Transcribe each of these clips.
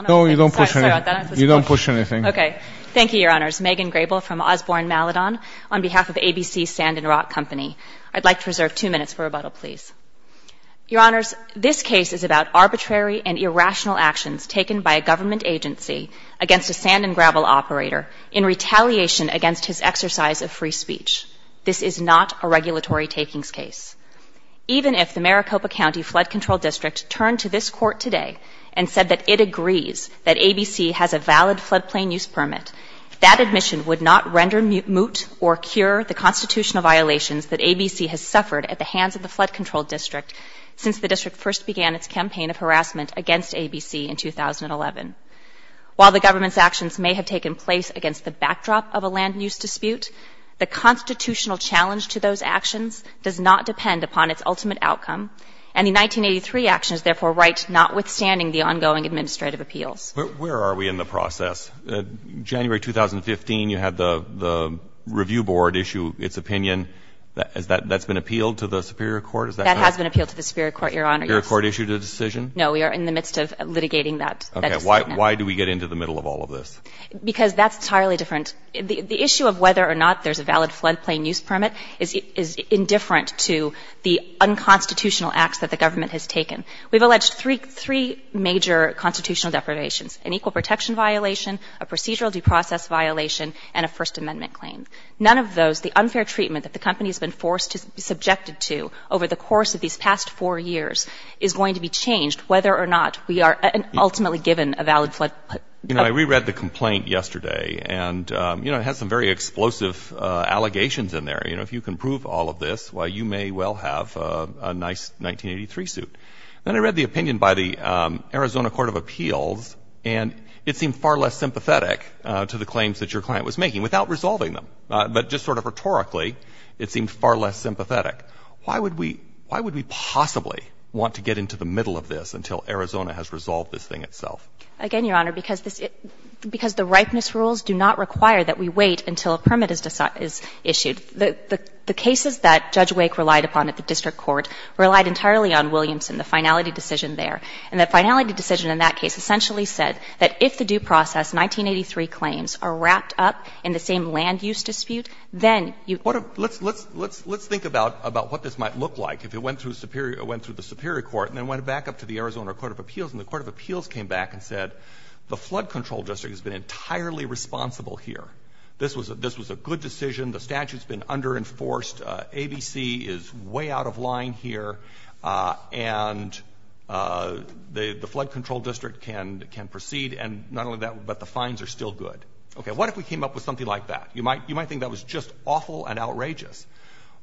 on behalf of ABC Sand & Rock Company. I'd like to reserve 2 minutes for rebuttal, please. Your Honors, this case is about arbitrary and irrational actions taken by a government agency against a sand and gravel operator in retaliation against his exercise of free speech. Even if the Maricopa County Flood Control District turned to this Court today and said that it agrees that ABC has a valid floodplain use permit, that admission would not render moot or cure the constitutional violations that ABC has suffered at the hands of the Flood Control District since the district first began its campaign of harassment against ABC in 2011. While the government's actions may have taken place against the backdrop of a land use dispute, the constitutional challenge to those actions does not depend upon its ultimate outcome. And the 1983 action is therefore right notwithstanding the ongoing administrative appeals. But where are we in the process? January 2015, you had the Review Board issue its opinion. That's been appealed to the Superior Court? That has been appealed to the Superior Court, Your Honor. The Superior Court issued a decision? No, we are in the midst of litigating that decision. Okay. Why do we get into the middle of all of this? Because that's entirely different. The issue of whether or not there's a valid floodplain use permit is indifferent to the unconstitutional acts that the government has taken. We've alleged three major constitutional deprivations, an equal protection violation, a procedural due process violation and a First Amendment claim. None of those, the unfair treatment that the company has been forced to be subjected to over the course of these past four years is going to be changed whether or not we are ultimately given a valid floodplain use permit. You know, I reread the complaint yesterday. And, you know, it has some very explosive allegations in there. You know, if you can prove all of this, why, you may well have a nice 1983 suit. Then I read the opinion by the Arizona Court of Appeals, and it seemed far less sympathetic to the claims that your client was making, without resolving them. But just sort of rhetorically, it seemed far less sympathetic. Why would we possibly want to get into the middle of this until Arizona has resolved this thing itself? Again, Your Honor, because the ripeness rules do not require that we wait until a permit is issued. The cases that Judge Wake relied upon at the district court relied entirely on Williamson, the finality decision there. And the finality decision in that case essentially said that if the due process, 1983 claims, are wrapped up in the same land use dispute, then you can't do anything else. Let's think about what this might look like if it went through the Superior Court and then went back up to the Arizona Court of Appeals and the Court of Appeals came back and said the flood control district has been entirely responsible here. This was a good decision. The statute has been under-enforced. ABC is way out of line here. And the flood control district can proceed, and not only that, but the fines are still good. Okay. What if we came up with something like that? You might think that was just awful and outrageous,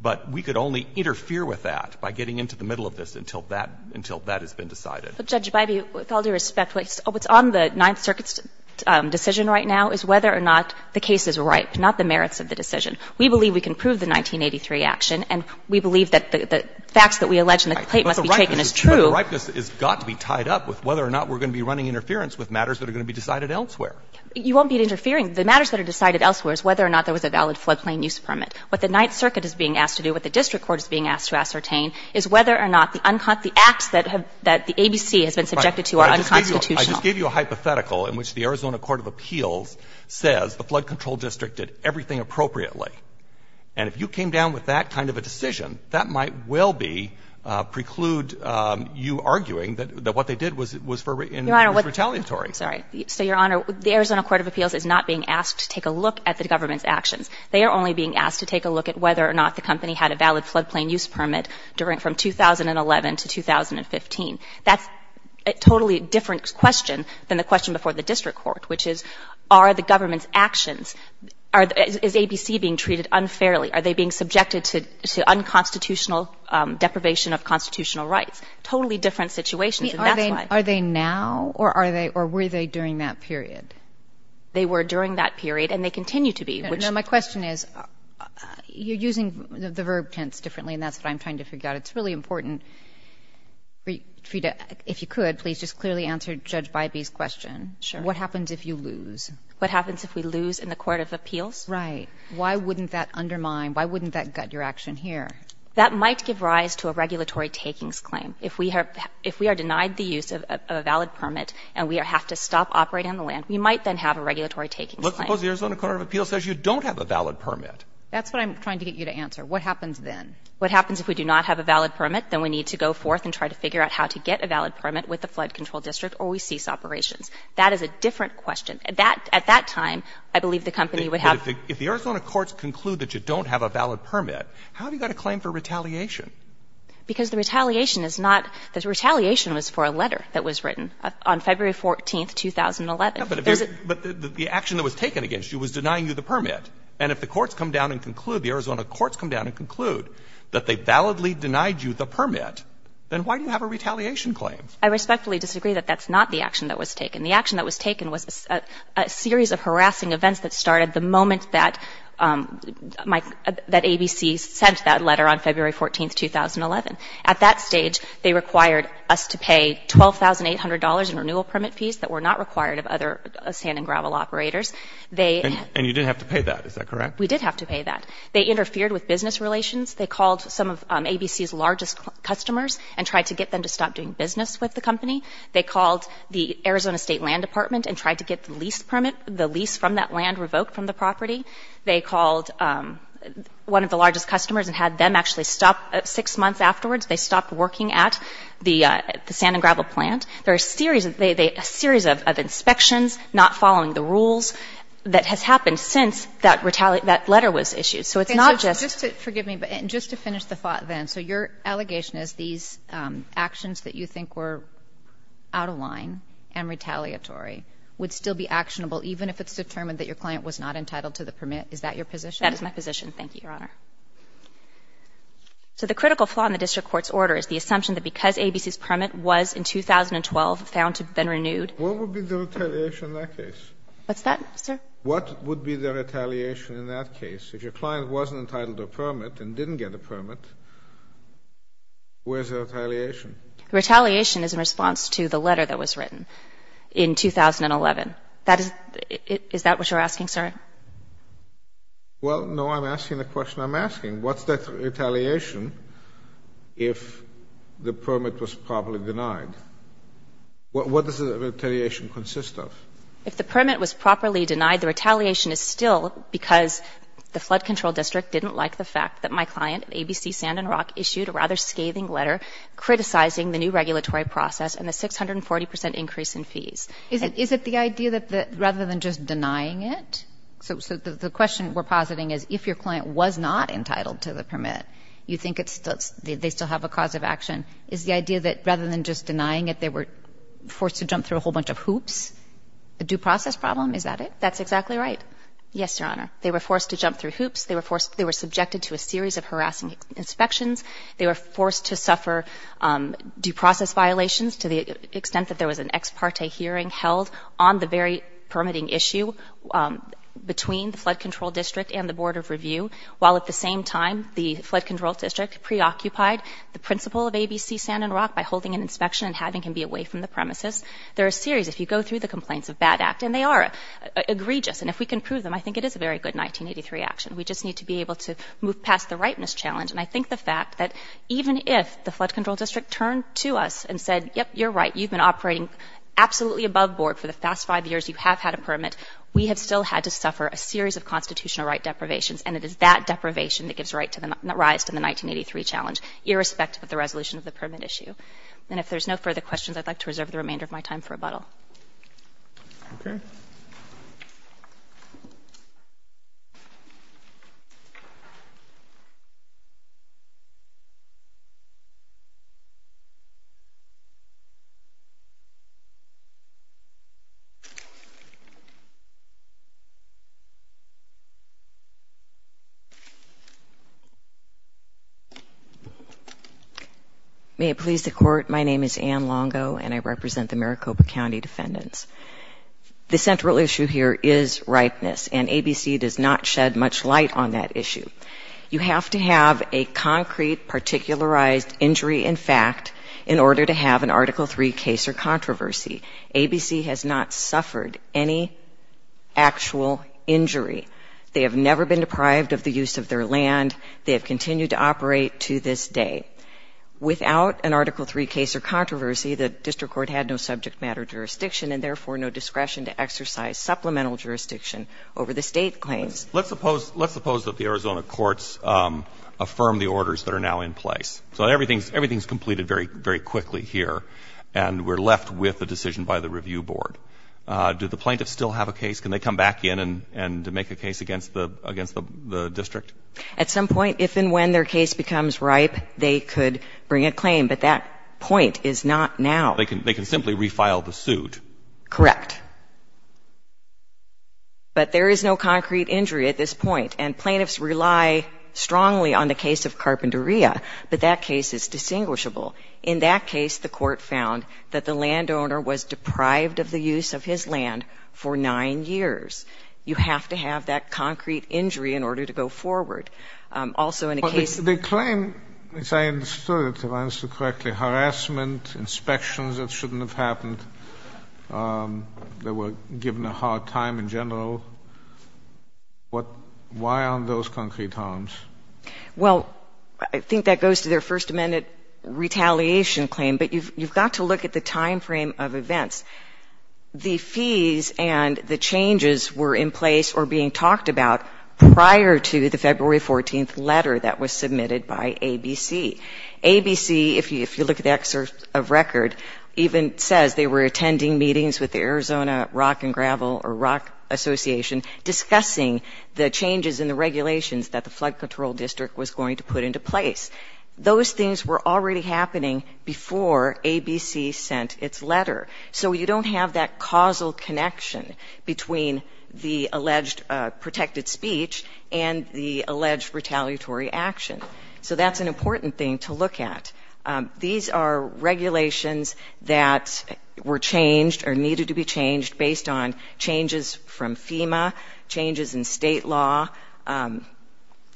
but we could only interfere with that by getting into the middle of this until that has been decided. But, Judge Biby, with all due respect, what's on the Ninth Circuit's decision right now is whether or not the case is ripe, not the merits of the decision. We believe we can prove the 1983 action, and we believe that the facts that we allege in the complaint must be taken as true. But the ripeness has got to be tied up with whether or not we're going to be running interference with matters that are going to be decided elsewhere. You won't be interfering. The matters that are decided elsewhere is whether or not there was a valid flood plain use permit. What the Ninth Circuit is being asked to do, what the district court is being asked to ascertain, is whether or not the acts that the ABC has been subjected to are unconstitutional. I just gave you a hypothetical in which the Arizona court of appeals says the flood control district did everything appropriately. And if you came down with that kind of a decision, that might well be preclude you arguing that what they did was retaliatory. Your Honor, sorry. So, Your Honor, the Arizona court of appeals is not being asked to take a look at the government's actions. They are only being asked to take a look at whether or not the company had a valid flood plain use permit from 2011 to 2015. That's a totally different question than the question before the district court, which is, are the government's actions, is ABC being treated unfairly? Are they being subjected to unconstitutional deprivation of constitutional rights? Totally different situations, and that's why. Are they now, or were they during that period? They were during that period, and they continue to be. No, my question is, you're using the verb tense differently, and that's what I'm trying to figure out. It's really important for you to, if you could, please just clearly answer Judge Bybee's question. Sure. What happens if you lose? What happens if we lose in the court of appeals? Right. Why wouldn't that undermine, why wouldn't that gut your action here? That might give rise to a regulatory takings claim. If we are denied the use of a valid permit and we have to stop operating on the land, we might then have a regulatory takings claim. Let's suppose the Arizona court of appeals says you don't have a valid permit. That's what I'm trying to get you to answer. What happens then? What happens if we do not have a valid permit? Then we need to go forth and try to figure out how to get a valid permit with the Flood Control District, or we cease operations. That is a different question. At that time, I believe the company would have to ---- But if the Arizona courts conclude that you don't have a valid permit, how have you got a claim for retaliation? Because the retaliation is not, the retaliation was for a letter that was written on February 14th, 2011. But the action that was taken against you was denying you the permit. And if the courts come down and conclude, the Arizona courts come down and conclude that they validly denied you the permit, then why do you have a retaliation claim? I respectfully disagree that that's not the action that was taken. The action that was taken was a series of harassing events that started the moment that my ---- that ABC sent that letter on February 14th, 2011. At that stage, they required us to pay $12,800 in renewal permit fees that were not required of other sand and gravel operators. They ---- And you didn't have to pay that. Is that correct? We did have to pay that. They interfered with business relations. They called some of ABC's largest customers and tried to get them to stop doing business with the company. They called the Arizona State Land Department and tried to get the lease permit, the lease from that land revoked from the property. They called one of the largest customers and had them actually stop. Six months afterwards, they stopped working at the sand and gravel plant. There are a series of inspections not following the rules that has happened since that letter was issued. So it's not just ---- Okay. So just to ---- forgive me, but just to finish the thought then. So your allegation is these actions that you think were out of line and retaliatory would still be actionable even if it's determined that your client was not entitled to the permit? Is that your position? That is my position. Thank you, Your Honor. So the critical flaw in the district court's order is the assumption that because ABC's permit was in 2012 found to have been renewed ---- What would be the retaliation in that case? What's that, sir? What would be the retaliation in that case? If your client wasn't entitled to a permit and didn't get a permit, where's the retaliation? Retaliation is in response to the letter that was written in 2011. Is that what you're asking, sir? Well, no, I'm asking the question I'm asking. What's that retaliation if the permit was properly denied? What does the retaliation consist of? If the permit was properly denied, the retaliation is still because the Flood Control District didn't like the fact that my client, ABC Sand and Rock, issued a rather scathing letter criticizing the new regulatory process and the 640 percent increase in fees. Is it the idea that rather than just denying it? So the question we're positing is if your client was not entitled to the permit, you think they still have a cause of action. Is the idea that rather than just denying it, they were forced to jump through a whole bunch of hoops? A due process problem, is that it? That's exactly right. Yes, Your Honor. They were forced to jump through hoops. They were forced to ---- they were subjected to a series of harassing inspections. They were forced to suffer due process violations to the extent that there was an ex parte hearing held on the very permitting issue between the Flood Control District and the Board of Review, while at the same time the Flood Control District preoccupied the principal of ABC Sand and Rock by holding an inspection and having him be away from the premises. They're a series, if you go through the complaints, of bad act. And they are egregious. And if we can prove them, I think it is a very good 1983 action. We just need to be able to move past the ripeness challenge. And I think the fact that even if the Flood Control District turned to us and said, yep, you're right, you've been operating absolutely above board for the past five years. You have had a permit. We have still had to suffer a series of constitutional right deprivations, and it is that deprivation that gives rise to the 1983 challenge, irrespective of the resolution of the permit issue. And if there's no further questions, I'd like to reserve the remainder of my time for rebuttal. Okay. Thank you. May it please the Court, my name is Ann Longo, and I represent the Maricopa County defendants. The central issue here is ripeness, and ABC does not shed much light on that issue. You have to have a concrete, particularized injury in fact in order to have an Article III case or controversy. ABC has not suffered any actual injury. They have never been deprived of the use of their land. They have continued to operate to this day. Without an Article III case or controversy, the district court had no subject matter jurisdiction, and therefore no discretion to exercise supplemental jurisdiction over the State claims. Let's suppose that the Arizona courts affirm the orders that are now in place. So everything's completed very quickly here, and we're left with the decision by the review board. Do the plaintiffs still have a case? Can they come back in and make a case against the district? At some point, if and when their case becomes ripe, they could bring a claim. But that point is not now. They can simply refile the suit. Correct. But there is no concrete injury at this point. And plaintiffs rely strongly on the case of Carpinteria. But that case is distinguishable. In that case, the court found that the landowner was deprived of the use of his land for 9 years. You have to have that concrete injury in order to go forward. Also in a case of the case. They claim, as I understood, if I understood correctly, harassment, inspections that shouldn't have happened, they were given a hard time in general. Why aren't those concrete harms? Well, I think that goes to their First Amendment retaliation claim. But you've got to look at the time frame of events. The fees and the changes were in place or being talked about prior to the February 14th letter that was submitted by ABC. ABC, if you look at the excerpt of record, even says they were attending meetings with the Arizona Rock and Gravel or Rock Association discussing the changes in the regulations that the Flood Control District was going to put into place. Those things were already happening before ABC sent its letter. So you don't have that causal connection between the alleged protected speech and the alleged retaliatory action. So that's an important thing to look at. These are regulations that were changed or needed to be changed based on changes from FEMA, changes in state law,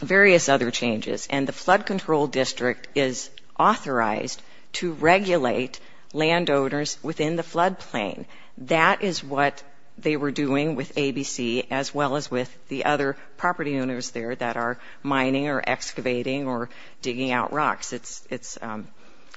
various other changes. And the Flood Control District is authorized to regulate landowners within the floodplain. That is what they were doing with ABC as well as with the other property owners there that are mining or excavating or digging out rocks. It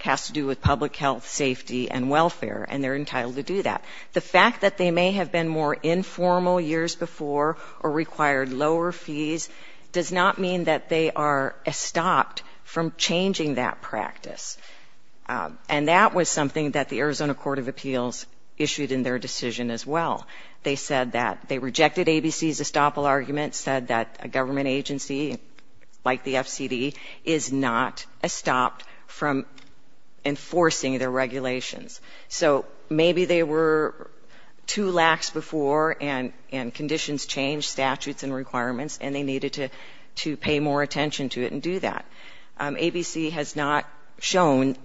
has to do with public health, safety, and welfare, and they're entitled to do that. The fact that they may have been more informal years before or required lower fees does not mean that they are estopped from changing that practice. And that was something that the Arizona Court of Appeals issued in their decision as well. They said that they rejected ABC's estoppel argument, said that a government agency like the FCD is not estopped from enforcing their regulations. So maybe they were too lax before and conditions changed, statutes and requirements, and they needed to pay more attention to it and do that. ABC has not shown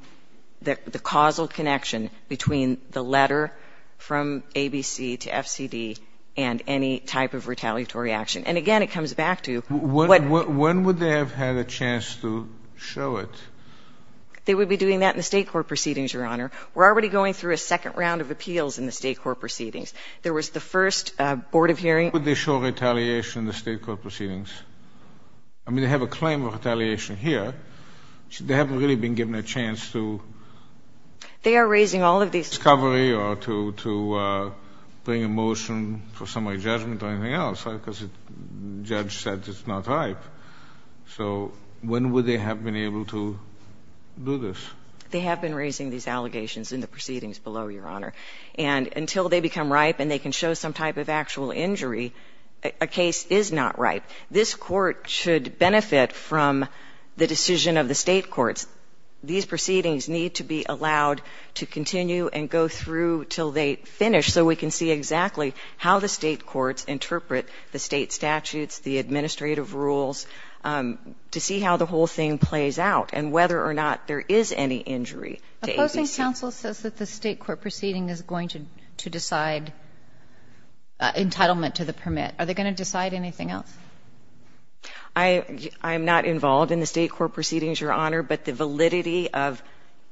the causal connection between the letter from ABC to FCD and any type of retaliatory action. And, again, it comes back to what they're doing. When would they have had a chance to show it? They would be doing that in the State court proceedings, Your Honor. We're already going through a second round of appeals in the State court proceedings. There was the first board of hearing. When would they show retaliation in the State court proceedings? I mean, they have a claim of retaliation here. They haven't really been given a chance to. They are raising all of these. to bring a motion for summary judgment or anything else because the judge said it's not ripe. So when would they have been able to do this? They have been raising these allegations in the proceedings below, Your Honor. And until they become ripe and they can show some type of actual injury, a case is not ripe. This court should benefit from the decision of the State courts. These proceedings need to be allowed to continue and go through until they finish so we can see exactly how the State courts interpret the State statutes, the administrative rules, to see how the whole thing plays out and whether or not there is any injury to ABC. Opposing counsel says that the State court proceeding is going to decide entitlement to the permit. Are they going to decide anything else? I'm not involved in the State court proceedings, Your Honor. But the validity of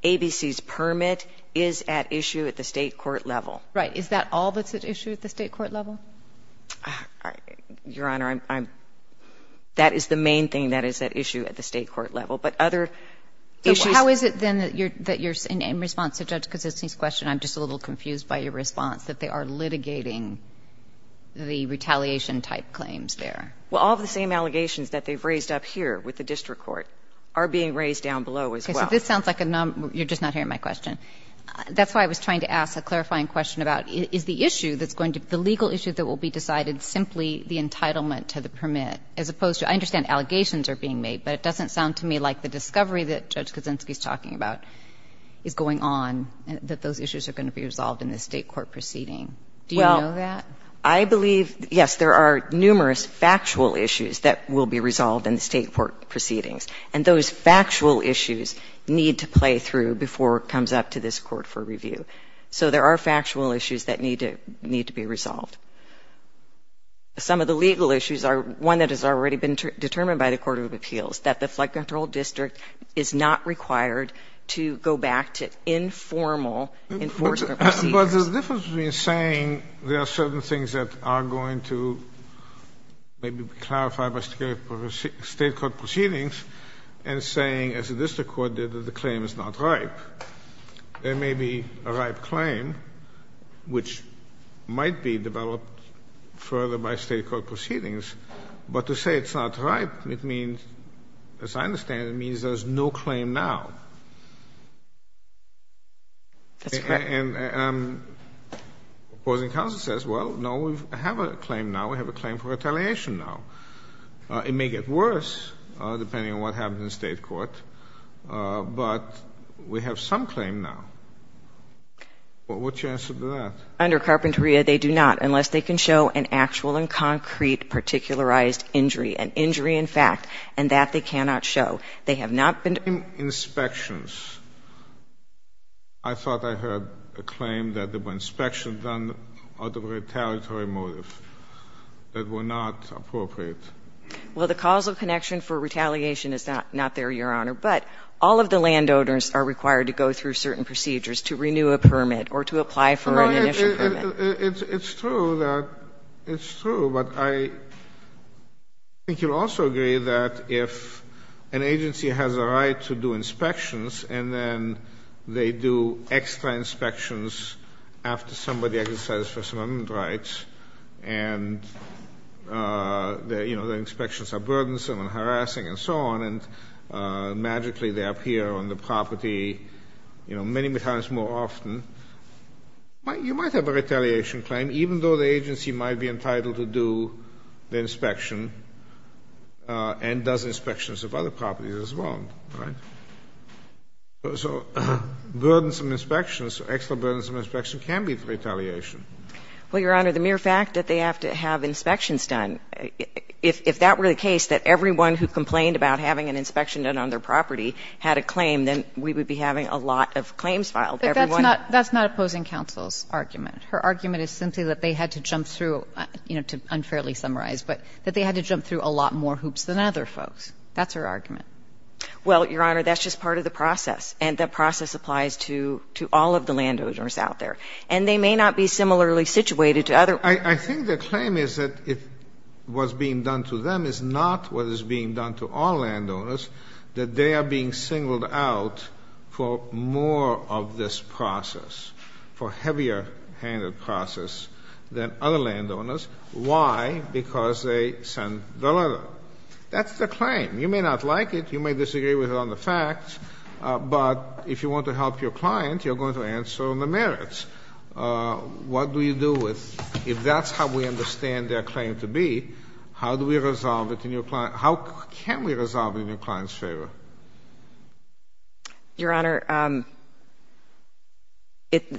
ABC's permit is at issue at the State court level. Right. Is that all that's at issue at the State court level? Your Honor, that is the main thing that is at issue at the State court level. But other issues. How is it then that you're in response to Judge Kosinski's question, I'm just a little confused by your response, that they are litigating the retaliation type claims there? Well, all of the same allegations that they've raised up here with the district court are being raised down below as well. Okay. So this sounds like a number of them. You're just not hearing my question. That's why I was trying to ask a clarifying question about is the issue that's going to be the legal issue that will be decided simply the entitlement to the permit as opposed to, I understand allegations are being made, but it doesn't sound to me like the discovery that Judge Kosinski is talking about is going on, that those issues are going to be resolved in the State court proceeding. Do you know that? I believe, yes, there are numerous factual issues that will be resolved in the State court proceedings. And those factual issues need to play through before it comes up to this court for review. So there are factual issues that need to be resolved. Some of the legal issues are one that has already been determined by the court of appeals, that the flood control district is not required to go back to informal enforcement procedures. But there's a difference between saying there are certain things that are going to maybe be clarified by State court proceedings and saying, as the district court did, that the claim is not ripe. There may be a ripe claim, which might be developed further by State court proceedings, but to say it's not ripe, it means, as I understand it, it means there's no claim now. That's correct. And opposing counsel says, well, no, we have a claim now. We have a claim for retaliation now. It may get worse, depending on what happens in the State court, but we have some claim now. What's your answer to that? Under Carpinteria, they do not, unless they can show an actual and concrete particularized injury, an injury in fact, and that they cannot show. They have not been to the court. In inspections, I thought I heard a claim that there were inspections on the retaliatory motive that were not appropriate. Well, the causal connection for retaliation is not there, Your Honor. But all of the landowners are required to go through certain procedures to renew a permit or to apply for an initial permit. It's true that — it's true. But I think you'll also agree that if an agency has a right to do inspections and then they do extra inspections after somebody exercises First Amendment rights, and, you know, the inspections are burdensome and harassing and so on, and magically they appear on the property, you know, many times more often, you might have a retaliation claim, even though the agency might be entitled to do the inspection and does inspections of other properties as well, right? So burdensome inspections, extra burdensome inspections can be retaliation. Well, Your Honor, the mere fact that they have to have inspections done, if that were the case, that everyone who complained about having an inspection done on their property had a claim, then we would be having a lot of claims filed. Everyone — That's her argument. Her argument is simply that they had to jump through, you know, to unfairly summarize, but that they had to jump through a lot more hoops than other folks. That's her argument. Well, Your Honor, that's just part of the process. And that process applies to all of the landowners out there. And they may not be similarly situated to other — I think the claim is that what's being done to them is not what is being done to all landowners, that they are being singled out for more of this process, for heavier handed process, than other landowners. Why? Because they send the letter. That's the claim. You may not like it. You may disagree with it on the facts. But if you want to help your client, you're going to answer on the merits. What do you do with — if that's how we understand their claim to be, how do we resolve it in your — how can we resolve it in your client's favor? Your Honor,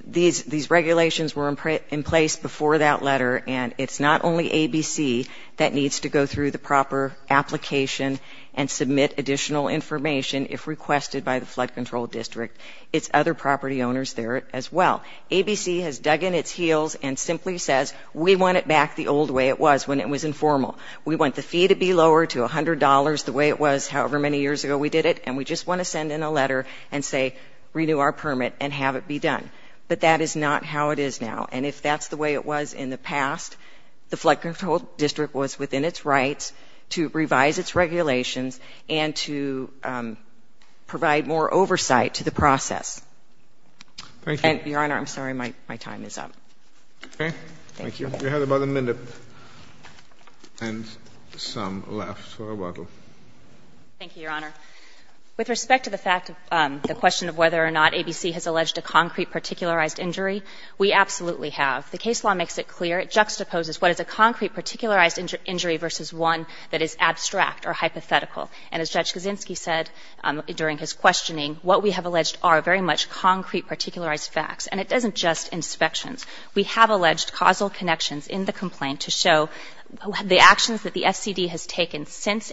these regulations were in place before that letter. And it's not only ABC that needs to go through the proper application and submit additional information if requested by the Flood Control District. It's other property owners there as well. ABC has dug in its heels and simply says, we want it back the old way it was when it was informal. We want the fee to be lowered to $100 the way it was however many years ago we did it. And we just want to send in a letter and say, renew our permit and have it be done. But that is not how it is now. And if that's the way it was in the past, the Flood Control District was within its rights to revise its regulations and to provide more oversight to the process. Thank you. Your Honor, I'm sorry. My time is up. Okay. Thank you. You have about a minute and some left for rebuttal. Thank you, Your Honor. With respect to the fact of the question of whether or not ABC has alleged a concrete particularized injury, we absolutely have. The case law makes it clear. It juxtaposes what is a concrete particularized injury versus one that is abstract or hypothetical. And as Judge Kaczynski said during his questioning, what we have alleged are very much concrete particularized facts. And it doesn't just inspections. We have alleged causal connections in the complaint to show the actions that the FCD has taken since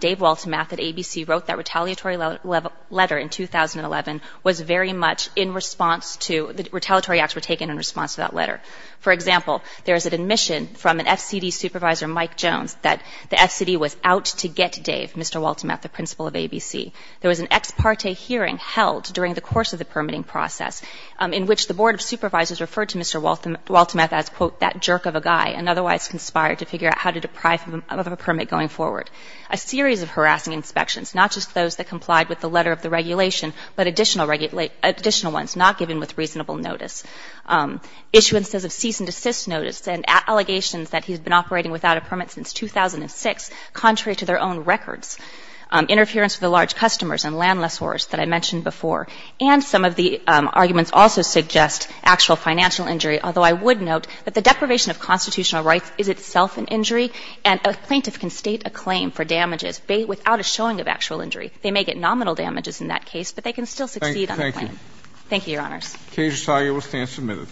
Dave Waltemath at ABC wrote that retaliatory letter in 2011 was very much in response to the retaliatory acts were taken in response to that letter. For example, there is an admission from an FCD supervisor, Mike Jones, that the FCD was out to get Dave, Mr. Waltemath, the principal of ABC. There was an ex parte hearing held during the course of the permitting process in which the Board of Supervisors referred to Mr. Waltemath as, quote, that jerk of a guy and otherwise conspired to figure out how to deprive him of a permit going forward. A series of harassing inspections, not just those that complied with the letter of the regulation, but additional ones not given with reasonable notice. Issuances of cease and desist notice and allegations that he's been operating without a permit since 2006, contrary to their own records. Interference with the large customers and land lessors that I mentioned before. And some of the arguments also suggest actual financial injury, although I would note that the deprivation of constitutional rights is itself an injury. And a plaintiff can state a claim for damages without a showing of actual injury. They may get nominal damages in that case, but they can still succeed on a claim. Thank you. Thank you, Your Honors. Cage-Target will stand submitted.